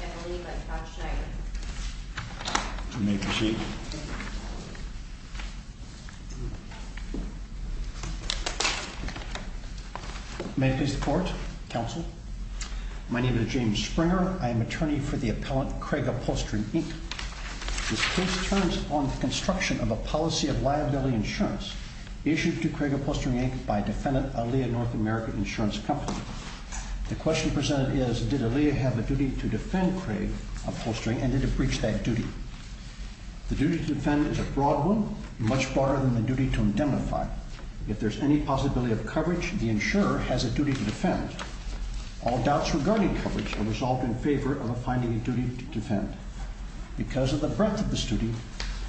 and the lead by Todd Schneider May I proceed? May I please report, counsel? My name is James Springer. I am attorney for the appellant Craig Upholstering, Inc. This case turns on the construction of a policy of liability insurance issued to Craig Upholstering, Inc. by defendant Alea North America Insurance Company. The question presented is did Alea have a duty to defend Craig Upholstering and did it breach that duty? The duty to defend is a broad one, much broader than the duty to indemnify. If there is any possibility of coverage, the insurer has a duty to defend. All doubts regarding coverage are resolved in favor of finding a duty to defend. Because of the breadth of the study,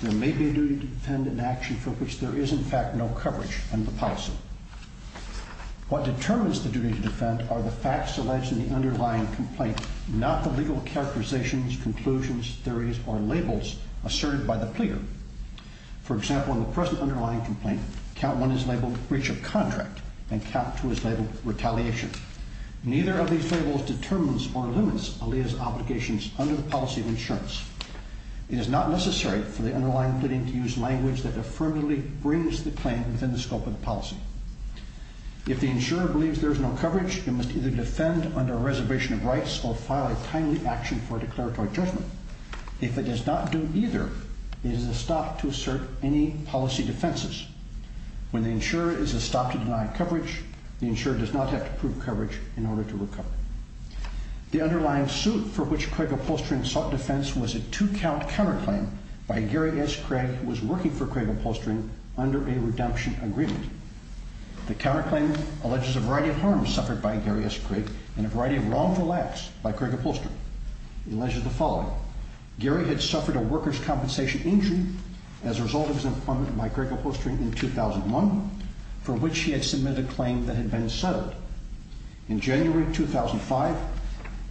there may be a duty to defend an action for which there is in fact no coverage under the policy. What determines the duty to defend are the facts alleged in the underlying complaint, not the legal characterizations, conclusions, theories, or labels asserted by the pleader. For example, in the present underlying complaint, count 1 is labeled breach of contract and count 2 is labeled retaliation. Neither of these labels determines or limits Alea's obligations under the policy of insurance. It is not necessary for the underlying pleading to use language that affirmatively brings the claim within the scope of the policy. If the insurer believes there is no coverage, it must either defend under a reservation of rights or file a timely action for a declaratory judgment. If it does not do either, it is a stop to assert any policy defenses. When the insurer is a stop to deny coverage, the insurer does not have to prove coverage in order to recover. The underlying suit for which Craig Upholstering sought defense was a two-count counterclaim by Gary S. Craig who was working for Craig Upholstering under a redemption agreement. The counterclaim alleges a variety of harms suffered by Gary S. Craig and a variety of wrongful acts by Craig Upholstering. It alleges the following. Gary had suffered a workers' compensation injury as a result of his employment by Craig Upholstering in 2001 for which he had submitted a claim that had been settled. In January 2005,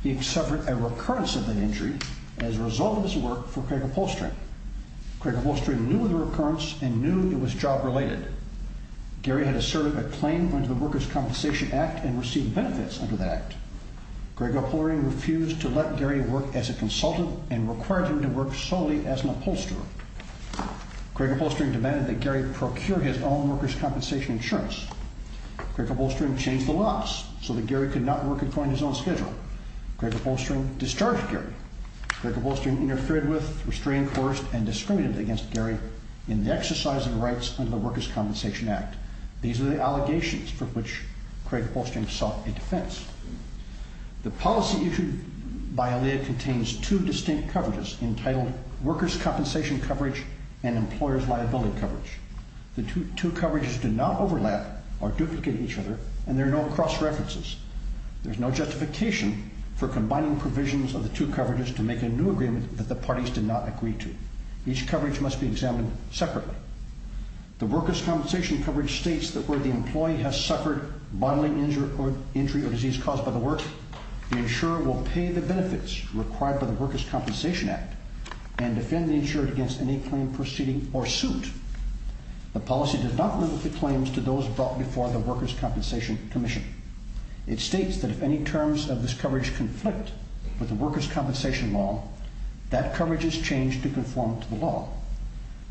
he had suffered a recurrence of that injury as a result of his work for Craig Upholstering. Craig Upholstering knew of the recurrence and knew it was job-related. Gary had asserted a claim under the Workers' Compensation Act and received benefits under that act. Craig Upholstering refused to let Gary work as a consultant and required him to work solely as an upholsterer. Craig Upholstering demanded that Gary procure his own workers' compensation insurance. Craig Upholstering changed the laws so that Gary could not work according to his own schedule. Craig Upholstering discharged Gary. Craig Upholstering interfered with, restrained, coerced and discriminated against Gary in the exercise of rights under the Workers' Compensation Act. These are the allegations for which Craig Upholstering sought a defense. The policy issued by ILEA contains two distinct coverages entitled Workers' Compensation Coverage and Employers' Liability Coverage. The two coverages do not overlap or duplicate each other and there are no cross-references. There is no justification for combining provisions of the two coverages to make a new agreement that the parties did not agree to. Each coverage must be examined separately. The Workers' Compensation Coverage states that where the employee has suffered bodily injury or disease caused by the work, the insurer will pay the benefits required by the Workers' Compensation Act and defend the insured against any claim proceeding or suit. The policy does not limit the claims to those brought before the Workers' Compensation Commission. It states that if any terms of this coverage conflict with the Workers' Compensation Law, that coverage is changed to conform to the law.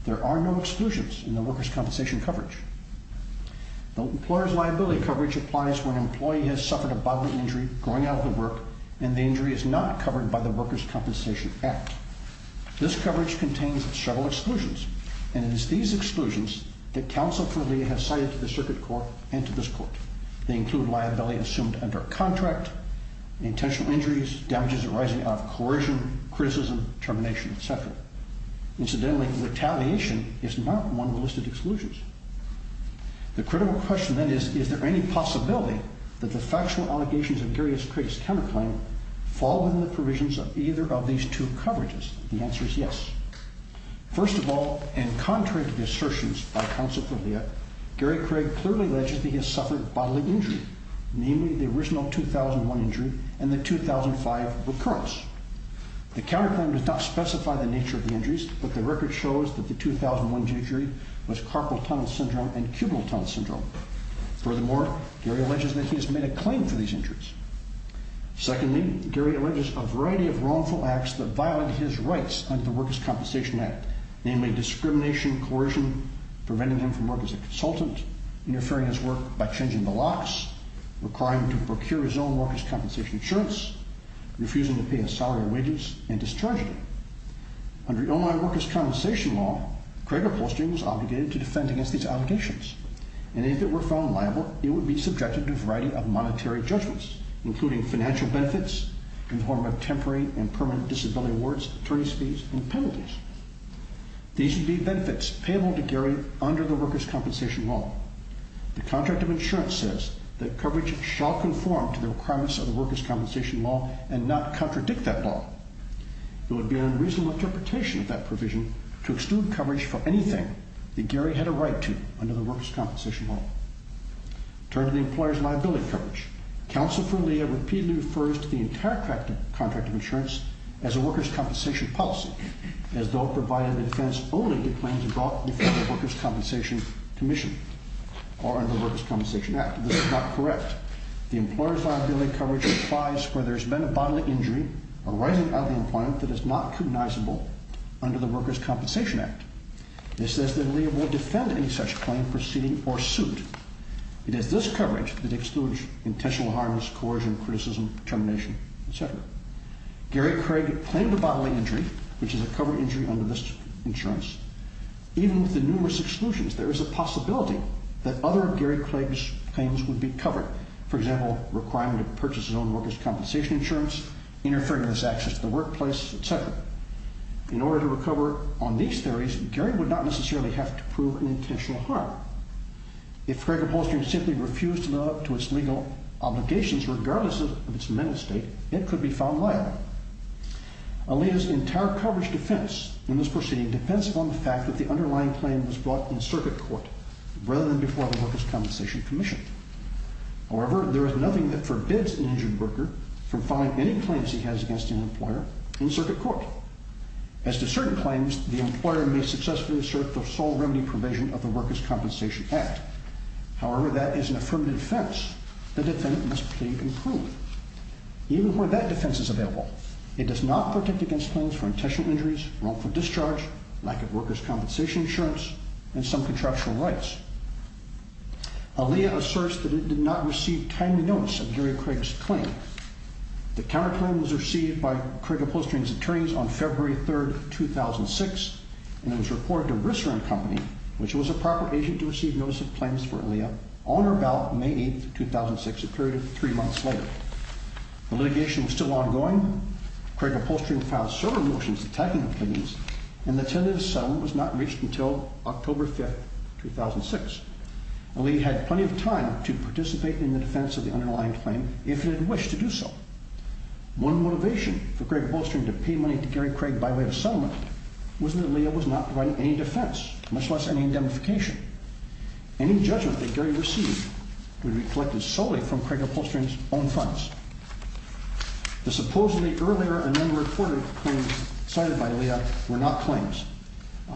There are no exclusions in the Workers' Compensation Coverage. The Employers' Liability Coverage applies when an employee has suffered a bodily injury growing out of the work and the injury is not covered by the Workers' Compensation Act. This coverage contains several exclusions and it is these exclusions that counsel for ILEA have cited to the Circuit Court and to this Court. They include liability assumed under a contract, intentional injuries, damages arising out of coercion, criticism, termination, etc. Incidentally, retaliation is not one of the listed exclusions. The critical question then is, is there any possibility that the factual allegations of Gary Craig's counterclaim fall within the provisions of either of these two coverages? The answer is yes. First of all, and contrary to the assertions by counsel for ILEA, Gary Craig clearly alleges that he has suffered bodily injury, namely the original 2001 injury and the 2005 recurrence. The counterclaim does not specify the nature of the injuries, but the record shows that the 2001 injury was carpal tunnel syndrome and cubital tunnel syndrome. Furthermore, Gary alleges that he has made a claim for these injuries. Secondly, Gary alleges a variety of wrongful acts that violate his rights under the Workers' Compensation Act, namely discrimination, coercion, preventing him from work as a consultant, interfering his work by changing the locks, requiring him to procure his own workers' compensation insurance, refusing to pay his salary and wages, and discharging him. Under Illinois Workers' Compensation Law, Craig upholstery was obligated to defend against these obligations, and if it were found liable, it would be subjected to a variety of monetary judgments, including financial benefits in the form of temporary and permanent disability awards, attorney's fees, and penalties. These would be benefits payable to Gary under the Workers' Compensation Law. The contract of insurance says that coverage shall conform to the requirements of the Workers' Compensation Law and not contradict that law. It would be an unreasonable interpretation of that provision to extrude coverage for anything that Gary had a right to under the Workers' Compensation Law. Turning to the employer's liability coverage, Counsel for Leah repeatedly refers to the entire contract of insurance as a workers' compensation policy, as though it provided a defense only to claims brought before the Workers' Compensation Commission or under the Workers' Compensation Act. This is not correct. The employer's liability coverage applies where there has been a bodily injury arising out of the employment that is not cognizable under the Workers' Compensation Act. This says that Leah will defend any such claim proceeding or suit. It is this coverage that excludes intentional harm, coercion, criticism, termination, etc. Gary Craig claimed a bodily injury, which is a cover injury under this insurance. Even with the numerous exclusions, there is a possibility that other of Gary Craig's claims would be covered, for example, requiring him to purchase his own workers' compensation insurance, interfering with his access to the workplace, etc. In order to recover on these theories, Gary would not necessarily have to prove an intentional harm. If Craig-Upholstering simply refused to live up to its legal obligations regardless of its amended state, it could be found liable. Alita's entire coverage defense in this proceeding depends upon the fact that the underlying claim was brought in circuit court rather than before the Workers' Compensation Commission. However, there is nothing that forbids an injured worker from filing any claims he has against an employer in circuit court. As to certain claims, the employer may successfully assert the sole remedy provision of the Workers' Compensation Act. However, that is an affirmative defense the defendant must plead and prove. Even where that defense is available, it does not protect against claims for intentional injuries, wrongful discharge, lack of workers' compensation insurance, and some contractual rights. Alita asserts that it did not receive timely notice of Gary Craig's claim. The counterclaim was received by Craig-Upholstering's attorneys on February 3, 2006, and it was reported to Brister & Company, which was a proper agent to receive notice of claims for Alita, on or about May 8, 2006, a period of three months later. The litigation was still ongoing. Craig-Upholstering filed several motions attacking the plaintiffs, and the intended settlement was not reached until October 5, 2006. Alita had plenty of time to participate in the defense of the underlying claim if it had wished to do so. One motivation for Craig-Upholstering to pay money to Gary Craig by way of settlement was that Alita was not providing any defense, much less any indemnification. Any judgment that Gary received would be collected solely from Craig-Upholstering's own funds. The supposedly earlier and unreported claims cited by Alita were not claims.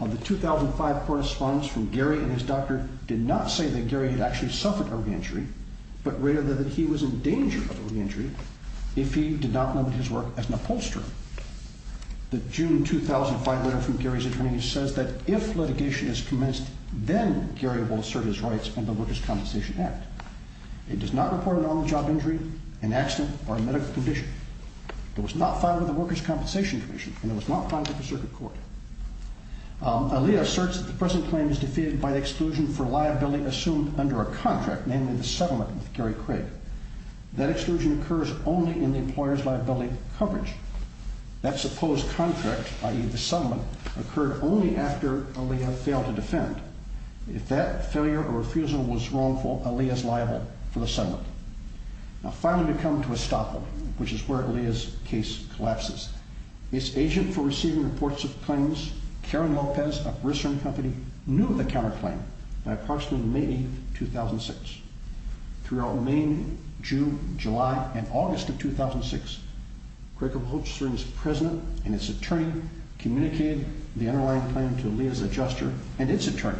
The 2005 correspondence from Gary and his doctor did not say that Gary had actually suffered a re-injury, but rather that he was in danger of a re-injury if he did not limit his work as an upholsterer. The June 2005 letter from Gary's attorneys says that if litigation is commenced, then Gary will assert his rights under the Workers' Compensation Act. It does not report an on-the-job injury, an accident, or a medical condition. It was not filed with the Workers' Compensation Commission, and it was not filed with the Circuit Court. Alita asserts that the present claim is defeated by the exclusion for liability assumed under a contract, namely the settlement with Gary Craig. That exclusion occurs only in the employer's liability coverage. That supposed contract, i.e. the settlement, occurred only after Alita failed to defend. If that failure or refusal was wrongful, Alita is liable for the settlement. Now, finally, we come to Estoppel, which is where Alita's case collapses. Its agent for receiving reports of claims, Karen Lopez of Grissom Company, knew of the counterclaim by approximately May 8, 2006. Throughout May, June, July, and August of 2006, Craig of Holstein's president and its attorney communicated the underlying claim to Alita's adjuster and its attorney.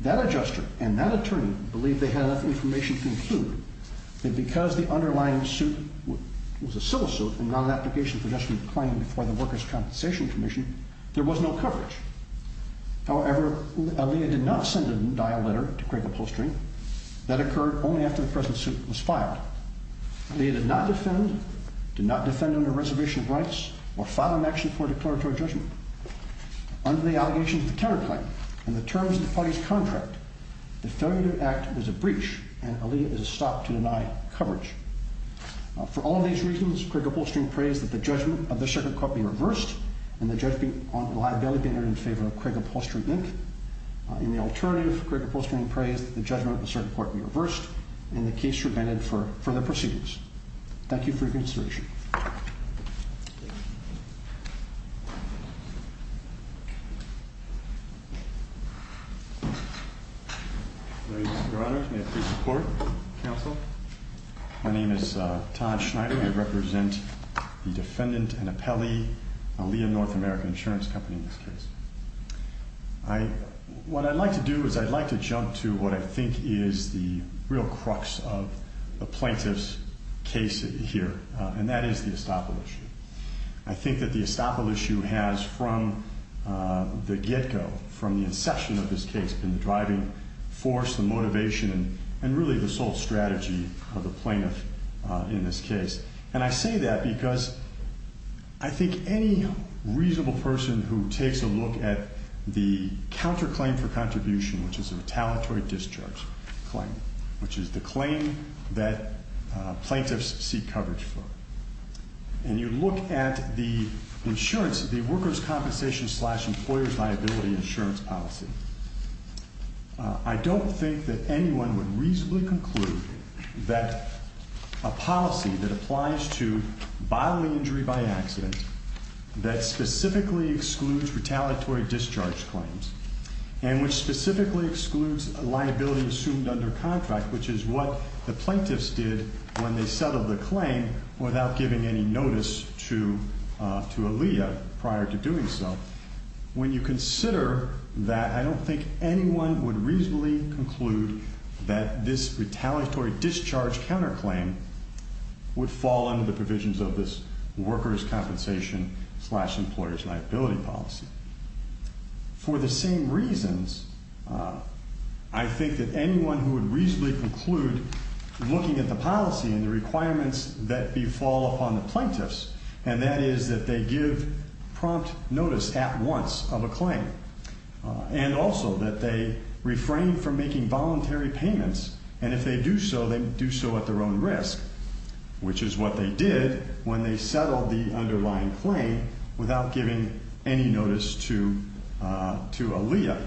That adjuster and that attorney believed they had enough information to conclude that because the underlying suit was a civil suit and not an application for adjustment of the claim before the Workers' Compensation Commission, there was no coverage. However, Alita did not send a dial letter to Craig of Holstein. That occurred only after the present suit was filed. Alita did not defend, did not defend under reservation of rights or file an action for a declaratory judgment. Under the allegations of the counterclaim and the terms of the party's contract, the failure to act is a breach and Alita is a stop to deny coverage. For all of these reasons, Craig of Holstein prays that the judgment of the circuit court be reversed and the judgment on liability be entered in favor of Craig of Holstein, Inc. In the alternative, Craig of Holstein prays that the judgment of the circuit court be reversed and the case should be amended for further proceedings. Thank you for your consideration. Your Honor, may I please report? Counsel. My name is Todd Schneider. I represent the defendant and appellee, Alita North American Insurance Company in this case. What I'd like to do is I'd like to jump to what I think is the real crux of the plaintiff's case here, and that is the estoppel issue. I think that the estoppel issue has from the get-go, from the inception of this case, been the driving force, the motivation, and really the sole strategy of the plaintiff in this case. And I say that because I think any reasonable person who takes a look at the counterclaim for contribution, which is a retaliatory discharge claim, which is the claim that plaintiffs seek coverage for, and you look at the insurance, the worker's compensation slash employer's liability insurance policy, I don't think that anyone would reasonably conclude that a policy that applies to bodily injury by accident, that specifically excludes retaliatory discharge claims, and which specifically excludes liability assumed under contract, which is what the plaintiffs did when they settled the claim without giving any notice to Alita prior to doing so. When you consider that, I don't think anyone would reasonably conclude that this retaliatory discharge counterclaim would fall under the provisions of this worker's compensation slash employer's liability policy. For the same reasons, I think that anyone who would reasonably conclude looking at the policy and the requirements that befall upon the plaintiffs, and that is that they give prompt notice at once of a claim, and also that they refrain from making voluntary payments, and if they do so, they do so at their own risk, which is what they did when they settled the underlying claim without giving any notice to Alita.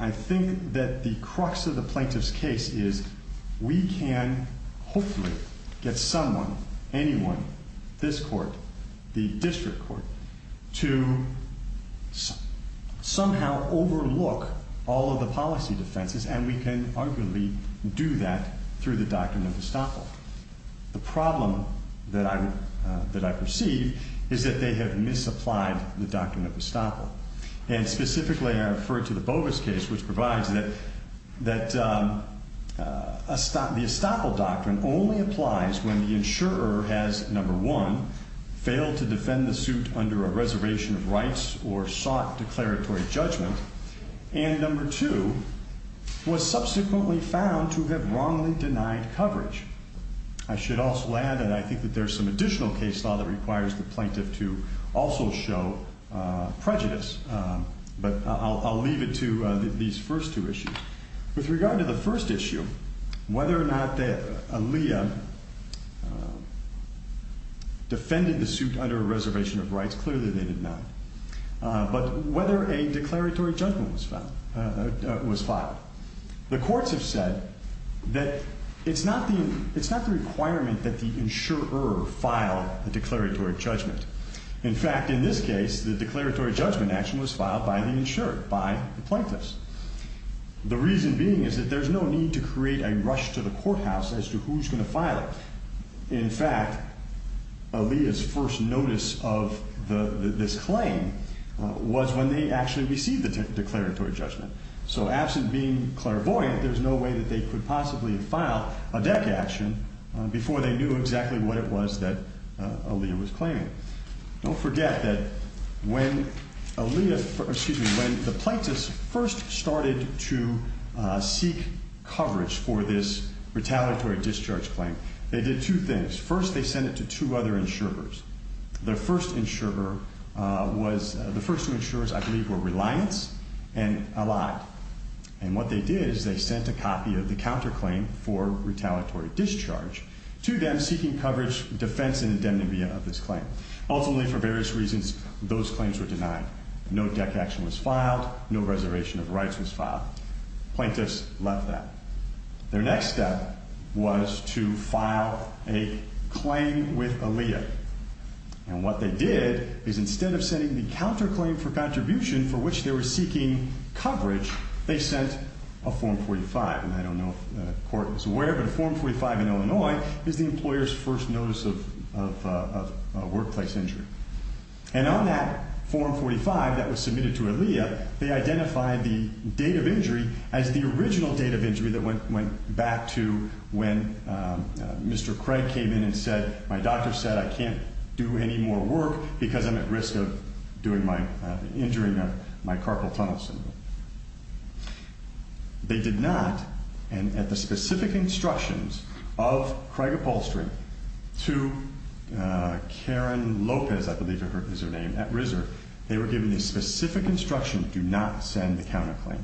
I think that the crux of the plaintiff's case is we can hopefully get someone, anyone, this court, the district court, to somehow overlook all of the policy defenses, and we can arguably do that through the doctrine of estoppel. The problem that I perceive is that they have misapplied the doctrine of estoppel, and specifically I refer to the Bovis case, which provides that the estoppel doctrine only applies when the insurer has, number one, failed to defend the suit under a reservation of rights or sought declaratory judgment, and number two, was subsequently found to have wrongly denied coverage. I should also add, and I think that there's some additional case law that requires the plaintiff to also show prejudice, but I'll leave it to these first two issues. With regard to the first issue, whether or not Alita defended the suit under a reservation of rights, clearly they did not, but whether a declaratory judgment was filed. The courts have said that it's not the requirement that the insurer file a declaratory judgment. In fact, in this case, the declaratory judgment action was filed by the insurer, by the plaintiffs. The reason being is that there's no need to create a rush to the courthouse as to who's going to file it. In fact, Alita's first notice of this claim was when they actually received the declaratory judgment. So absent being clairvoyant, there's no way that they could possibly have filed a deck action before they knew exactly what it was that Alita was claiming. Don't forget that when Alita, excuse me, when the plaintiffs first started to seek coverage for this retaliatory discharge claim, they did two things. Their first insurer was, the first two insurers, I believe, were Reliance and Allied. And what they did is they sent a copy of the counterclaim for retaliatory discharge to them seeking coverage, defense, and indemnity of this claim. Ultimately, for various reasons, those claims were denied. No deck action was filed. No reservation of rights was filed. Plaintiffs left that. Their next step was to file a claim with Alita. And what they did is instead of sending the counterclaim for contribution for which they were seeking coverage, they sent a Form 45. And I don't know if the court is aware, but a Form 45 in Illinois is the employer's first notice of workplace injury. And on that Form 45 that was submitted to Alita, they identified the date of injury as the original date of injury that went back to when Mr. Craig came in and said, my doctor said I can't do any more work because I'm at risk of doing my, injuring my carpal tunnel syndrome. They did not, and at the specific instructions of Craig Upholstery to Karen Lopez, I believe is her name, at RISR, they were given the specific instruction, do not send the counterclaim.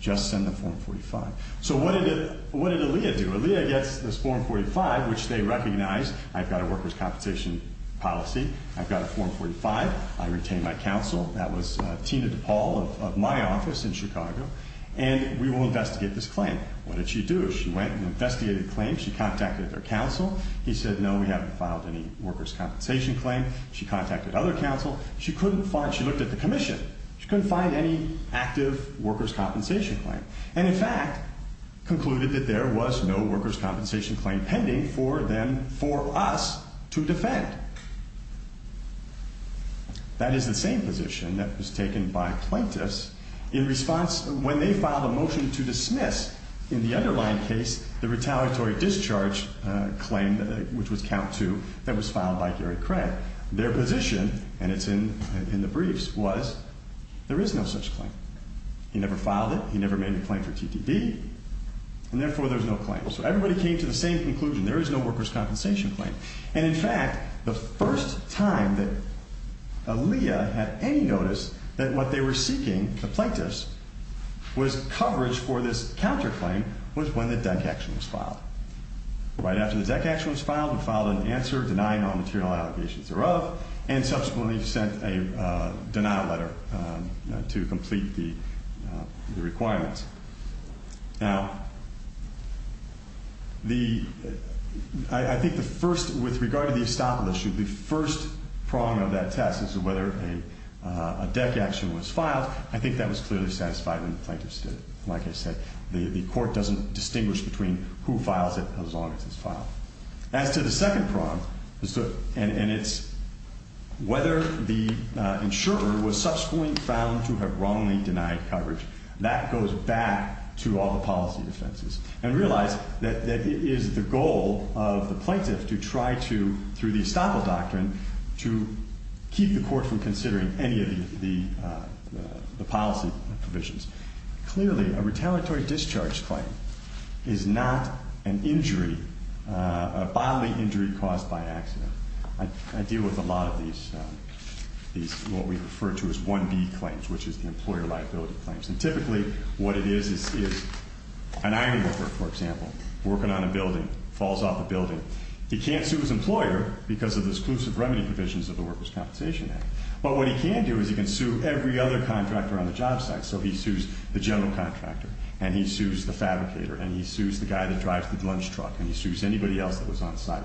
Just send the Form 45. So what did Alita do? Alita gets this Form 45, which they recognized. I've got a workers' compensation policy. I've got a Form 45. I retain my counsel. That was Tina DePaul of my office in Chicago. And we will investigate this claim. What did she do? She went and investigated the claim. She contacted their counsel. He said, no, we haven't filed any workers' compensation claim. She contacted other counsel. She couldn't find, she looked at the commission. She couldn't find any active workers' compensation claim. And, in fact, concluded that there was no workers' compensation claim pending for them, for us to defend. That is the same position that was taken by plaintiffs in response, when they filed a motion to dismiss, in the underlying case, the retaliatory discharge claim, which was count two, that was filed by Gary Craig. Their position, and it's in the briefs, was there is no such claim. He never filed it. He never made a claim for TDB. And, therefore, there's no claim. So everybody came to the same conclusion. There is no workers' compensation claim. And, in fact, the first time that Alita had any notice that what they were seeking, the plaintiffs, Right after the deck action was filed, we filed an answer denying all material allegations thereof, and subsequently sent a denial letter to complete the requirements. Now, I think the first, with regard to the estoppel issue, the first prong of that test is whether a deck action was filed. I think that was clearly satisfied when the plaintiffs did it. Like I said, the court doesn't distinguish between who files it as long as it's filed. As to the second prong, and it's whether the insurer was subsequently found to have wrongly denied coverage, that goes back to all the policy offenses. And realize that it is the goal of the plaintiffs to try to, through the estoppel doctrine, to keep the court from considering any of the policy provisions. Clearly, a retaliatory discharge claim is not an injury, a bodily injury caused by accident. I deal with a lot of these, what we refer to as 1B claims, which is the employer liability claims. And typically, what it is, is an iron worker, for example, working on a building, falls off a building. He can't sue his employer because of the exclusive remedy provisions of the Workers' Compensation Act. But what he can do is he can sue every other contractor on the job site. So he sues the general contractor, and he sues the fabricator, and he sues the guy that drives the lunch truck, and he sues anybody else that was on site.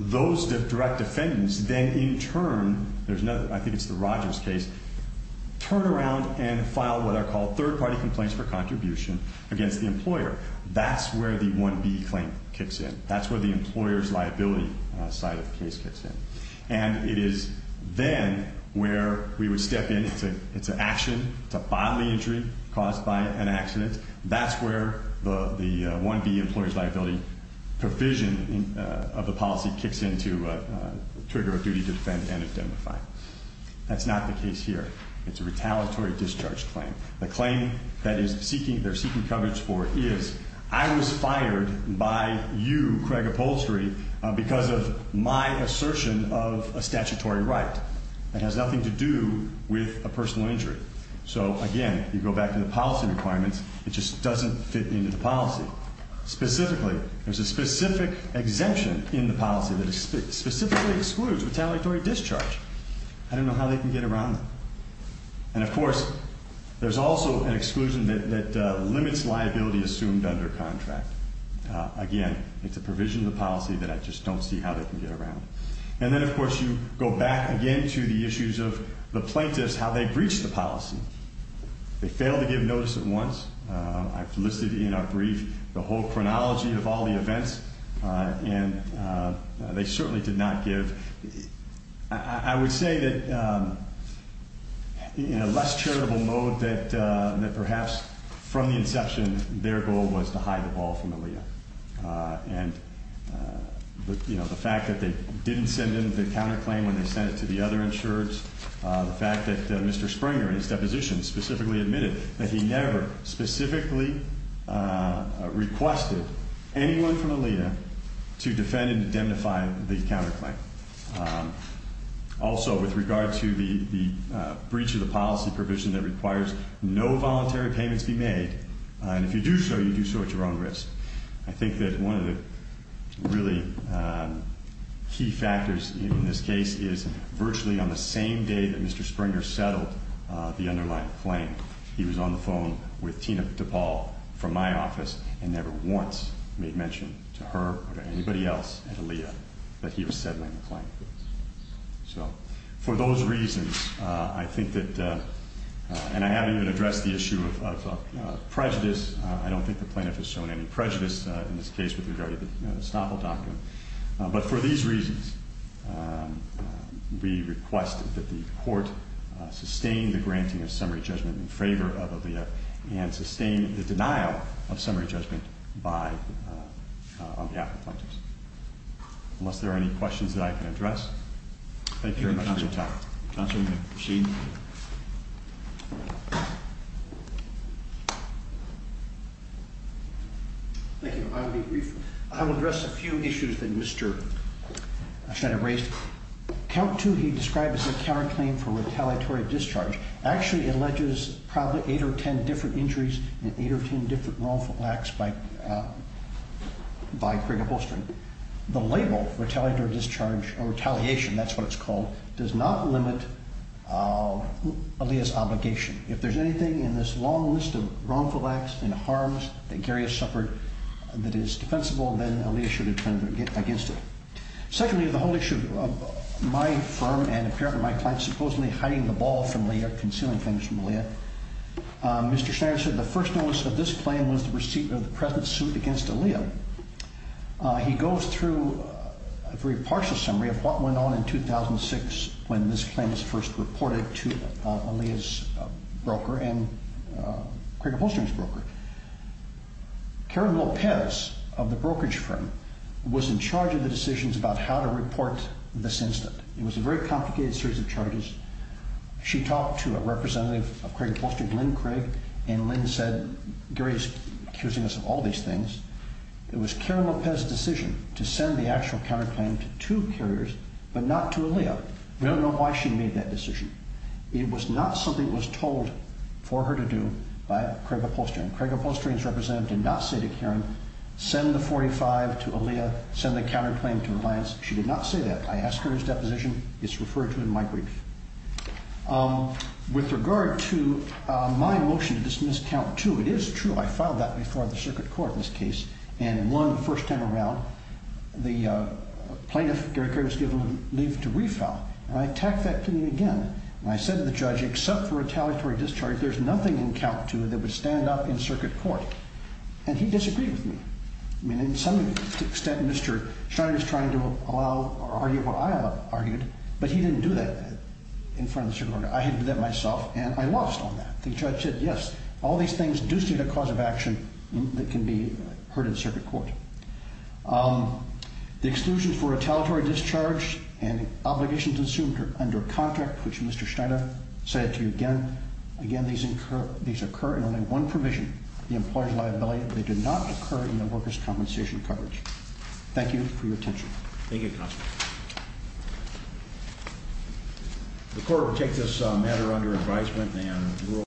Those direct defendants then, in turn, there's another, I think it's the Rogers case, turn around and file what are called third-party complaints for contribution against the employer. That's where the 1B claim kicks in. That's where the employer's liability side of the case kicks in. And it is then where we would step in. It's an action. It's a bodily injury caused by an accident. That's where the 1B employer's liability provision of the policy kicks in to trigger a duty to defend and indemnify. That's not the case here. It's a retaliatory discharge claim. The claim that they're seeking coverage for is I was fired by you, Craig Upholstery, because of my assertion of a statutory right that has nothing to do with a personal injury. So, again, you go back to the policy requirements. It just doesn't fit into the policy. Specifically, there's a specific exemption in the policy that specifically excludes retaliatory discharge. I don't know how they can get around that. And, of course, there's also an exclusion that limits liability assumed under contract. Again, it's a provision of the policy that I just don't see how they can get around. And then, of course, you go back again to the issues of the plaintiffs, how they breach the policy. They fail to give notice at once. I've listed in our brief the whole chronology of all the events, and they certainly did not give. I would say that in a less charitable mode, that perhaps from the inception, their goal was to hide the ball from Aliyah. And, you know, the fact that they didn't send in the counterclaim when they sent it to the other insurers, the fact that Mr. Springer, in his deposition, specifically admitted that he never specifically requested anyone from Aliyah to defend and indemnify the counterclaim. Also, with regard to the breach of the policy provision that requires no voluntary payments be made, and if you do so, you do so at your own risk, I think that one of the really key factors in this case is virtually on the same day that Mr. Springer settled the underlying claim, he was on the phone with Tina DePaul from my office and never once made mention to her or to anybody else at Aliyah that he was settling the claim. So, for those reasons, I think that, and I haven't even addressed the issue of prejudice. I don't think the plaintiff has shown any prejudice in this case with regard to the Estoppel Doctrine. But for these reasons, we request that the court sustain the granting of summary judgment in favor of Aliyah and sustain the denial of summary judgment on behalf of the plaintiffs. Unless there are any questions that I can address, thank you very much. Thank you, counsel. Counsel, you may proceed. Thank you. I will address a few issues that Mr. Schneider raised. Count 2, he described as a counterclaim for retaliatory discharge, actually alleges probably 8 or 10 different injuries and 8 or 10 different wrongful acts by Prigge-Upholstren. The label, retaliatory discharge or retaliation, that's what it's called, does not limit Aliyah's obligation. If there's anything in this long list of wrongful acts and harms that Gary has suffered that is defensible, then Aliyah should attempt to get against it. Secondly, the whole issue of my firm and apparently my client supposedly hiding the ball from Aliyah, concealing things from Aliyah, Mr. Schneider said the first notice of this claim was the receipt of the present suit against Aliyah. He goes through a very partial summary of what went on in 2006 when this claim was first reported to Aliyah's broker and Craig-Upholstren's broker. Karen Lopez of the brokerage firm was in charge of the decisions about how to report this incident. It was a very complicated series of charges. She talked to a representative of Craig-Upholstren, Lynn Craig, and Lynn said, Gary's accusing us of all these things. It was Karen Lopez's decision to send the actual counterclaim to two carriers but not to Aliyah. We don't know why she made that decision. It was not something that was told for her to do by Craig-Upholstren. Craig-Upholstren's representative did not say to Karen, send the 45 to Aliyah, send the counterclaim to Reliance. She did not say that. I asked her his deposition. It's referred to in my brief. With regard to my motion to dismiss count two, it is true I filed that before the circuit court in this case, and in one, the first time around, the plaintiff, Gary Craig, was given leave to refile, and I attacked that plea again. I said to the judge, except for retaliatory discharge, there's nothing in count two that would stand up in circuit court, and he disagreed with me. I mean, in some extent, Mr. Schneider's trying to allow or argue what I argued, but he didn't do that. In front of the circuit court, I had to do that myself, and I lost on that. The judge said, yes, all these things do stand a cause of action that can be heard in circuit court. The exclusion for retaliatory discharge and obligations assumed under contract, which Mr. Schneider said to you again, again, these occur in only one provision, the employer's liability. They do not occur in the worker's compensation coverage. Thank you for your attention. Thank you, counsel.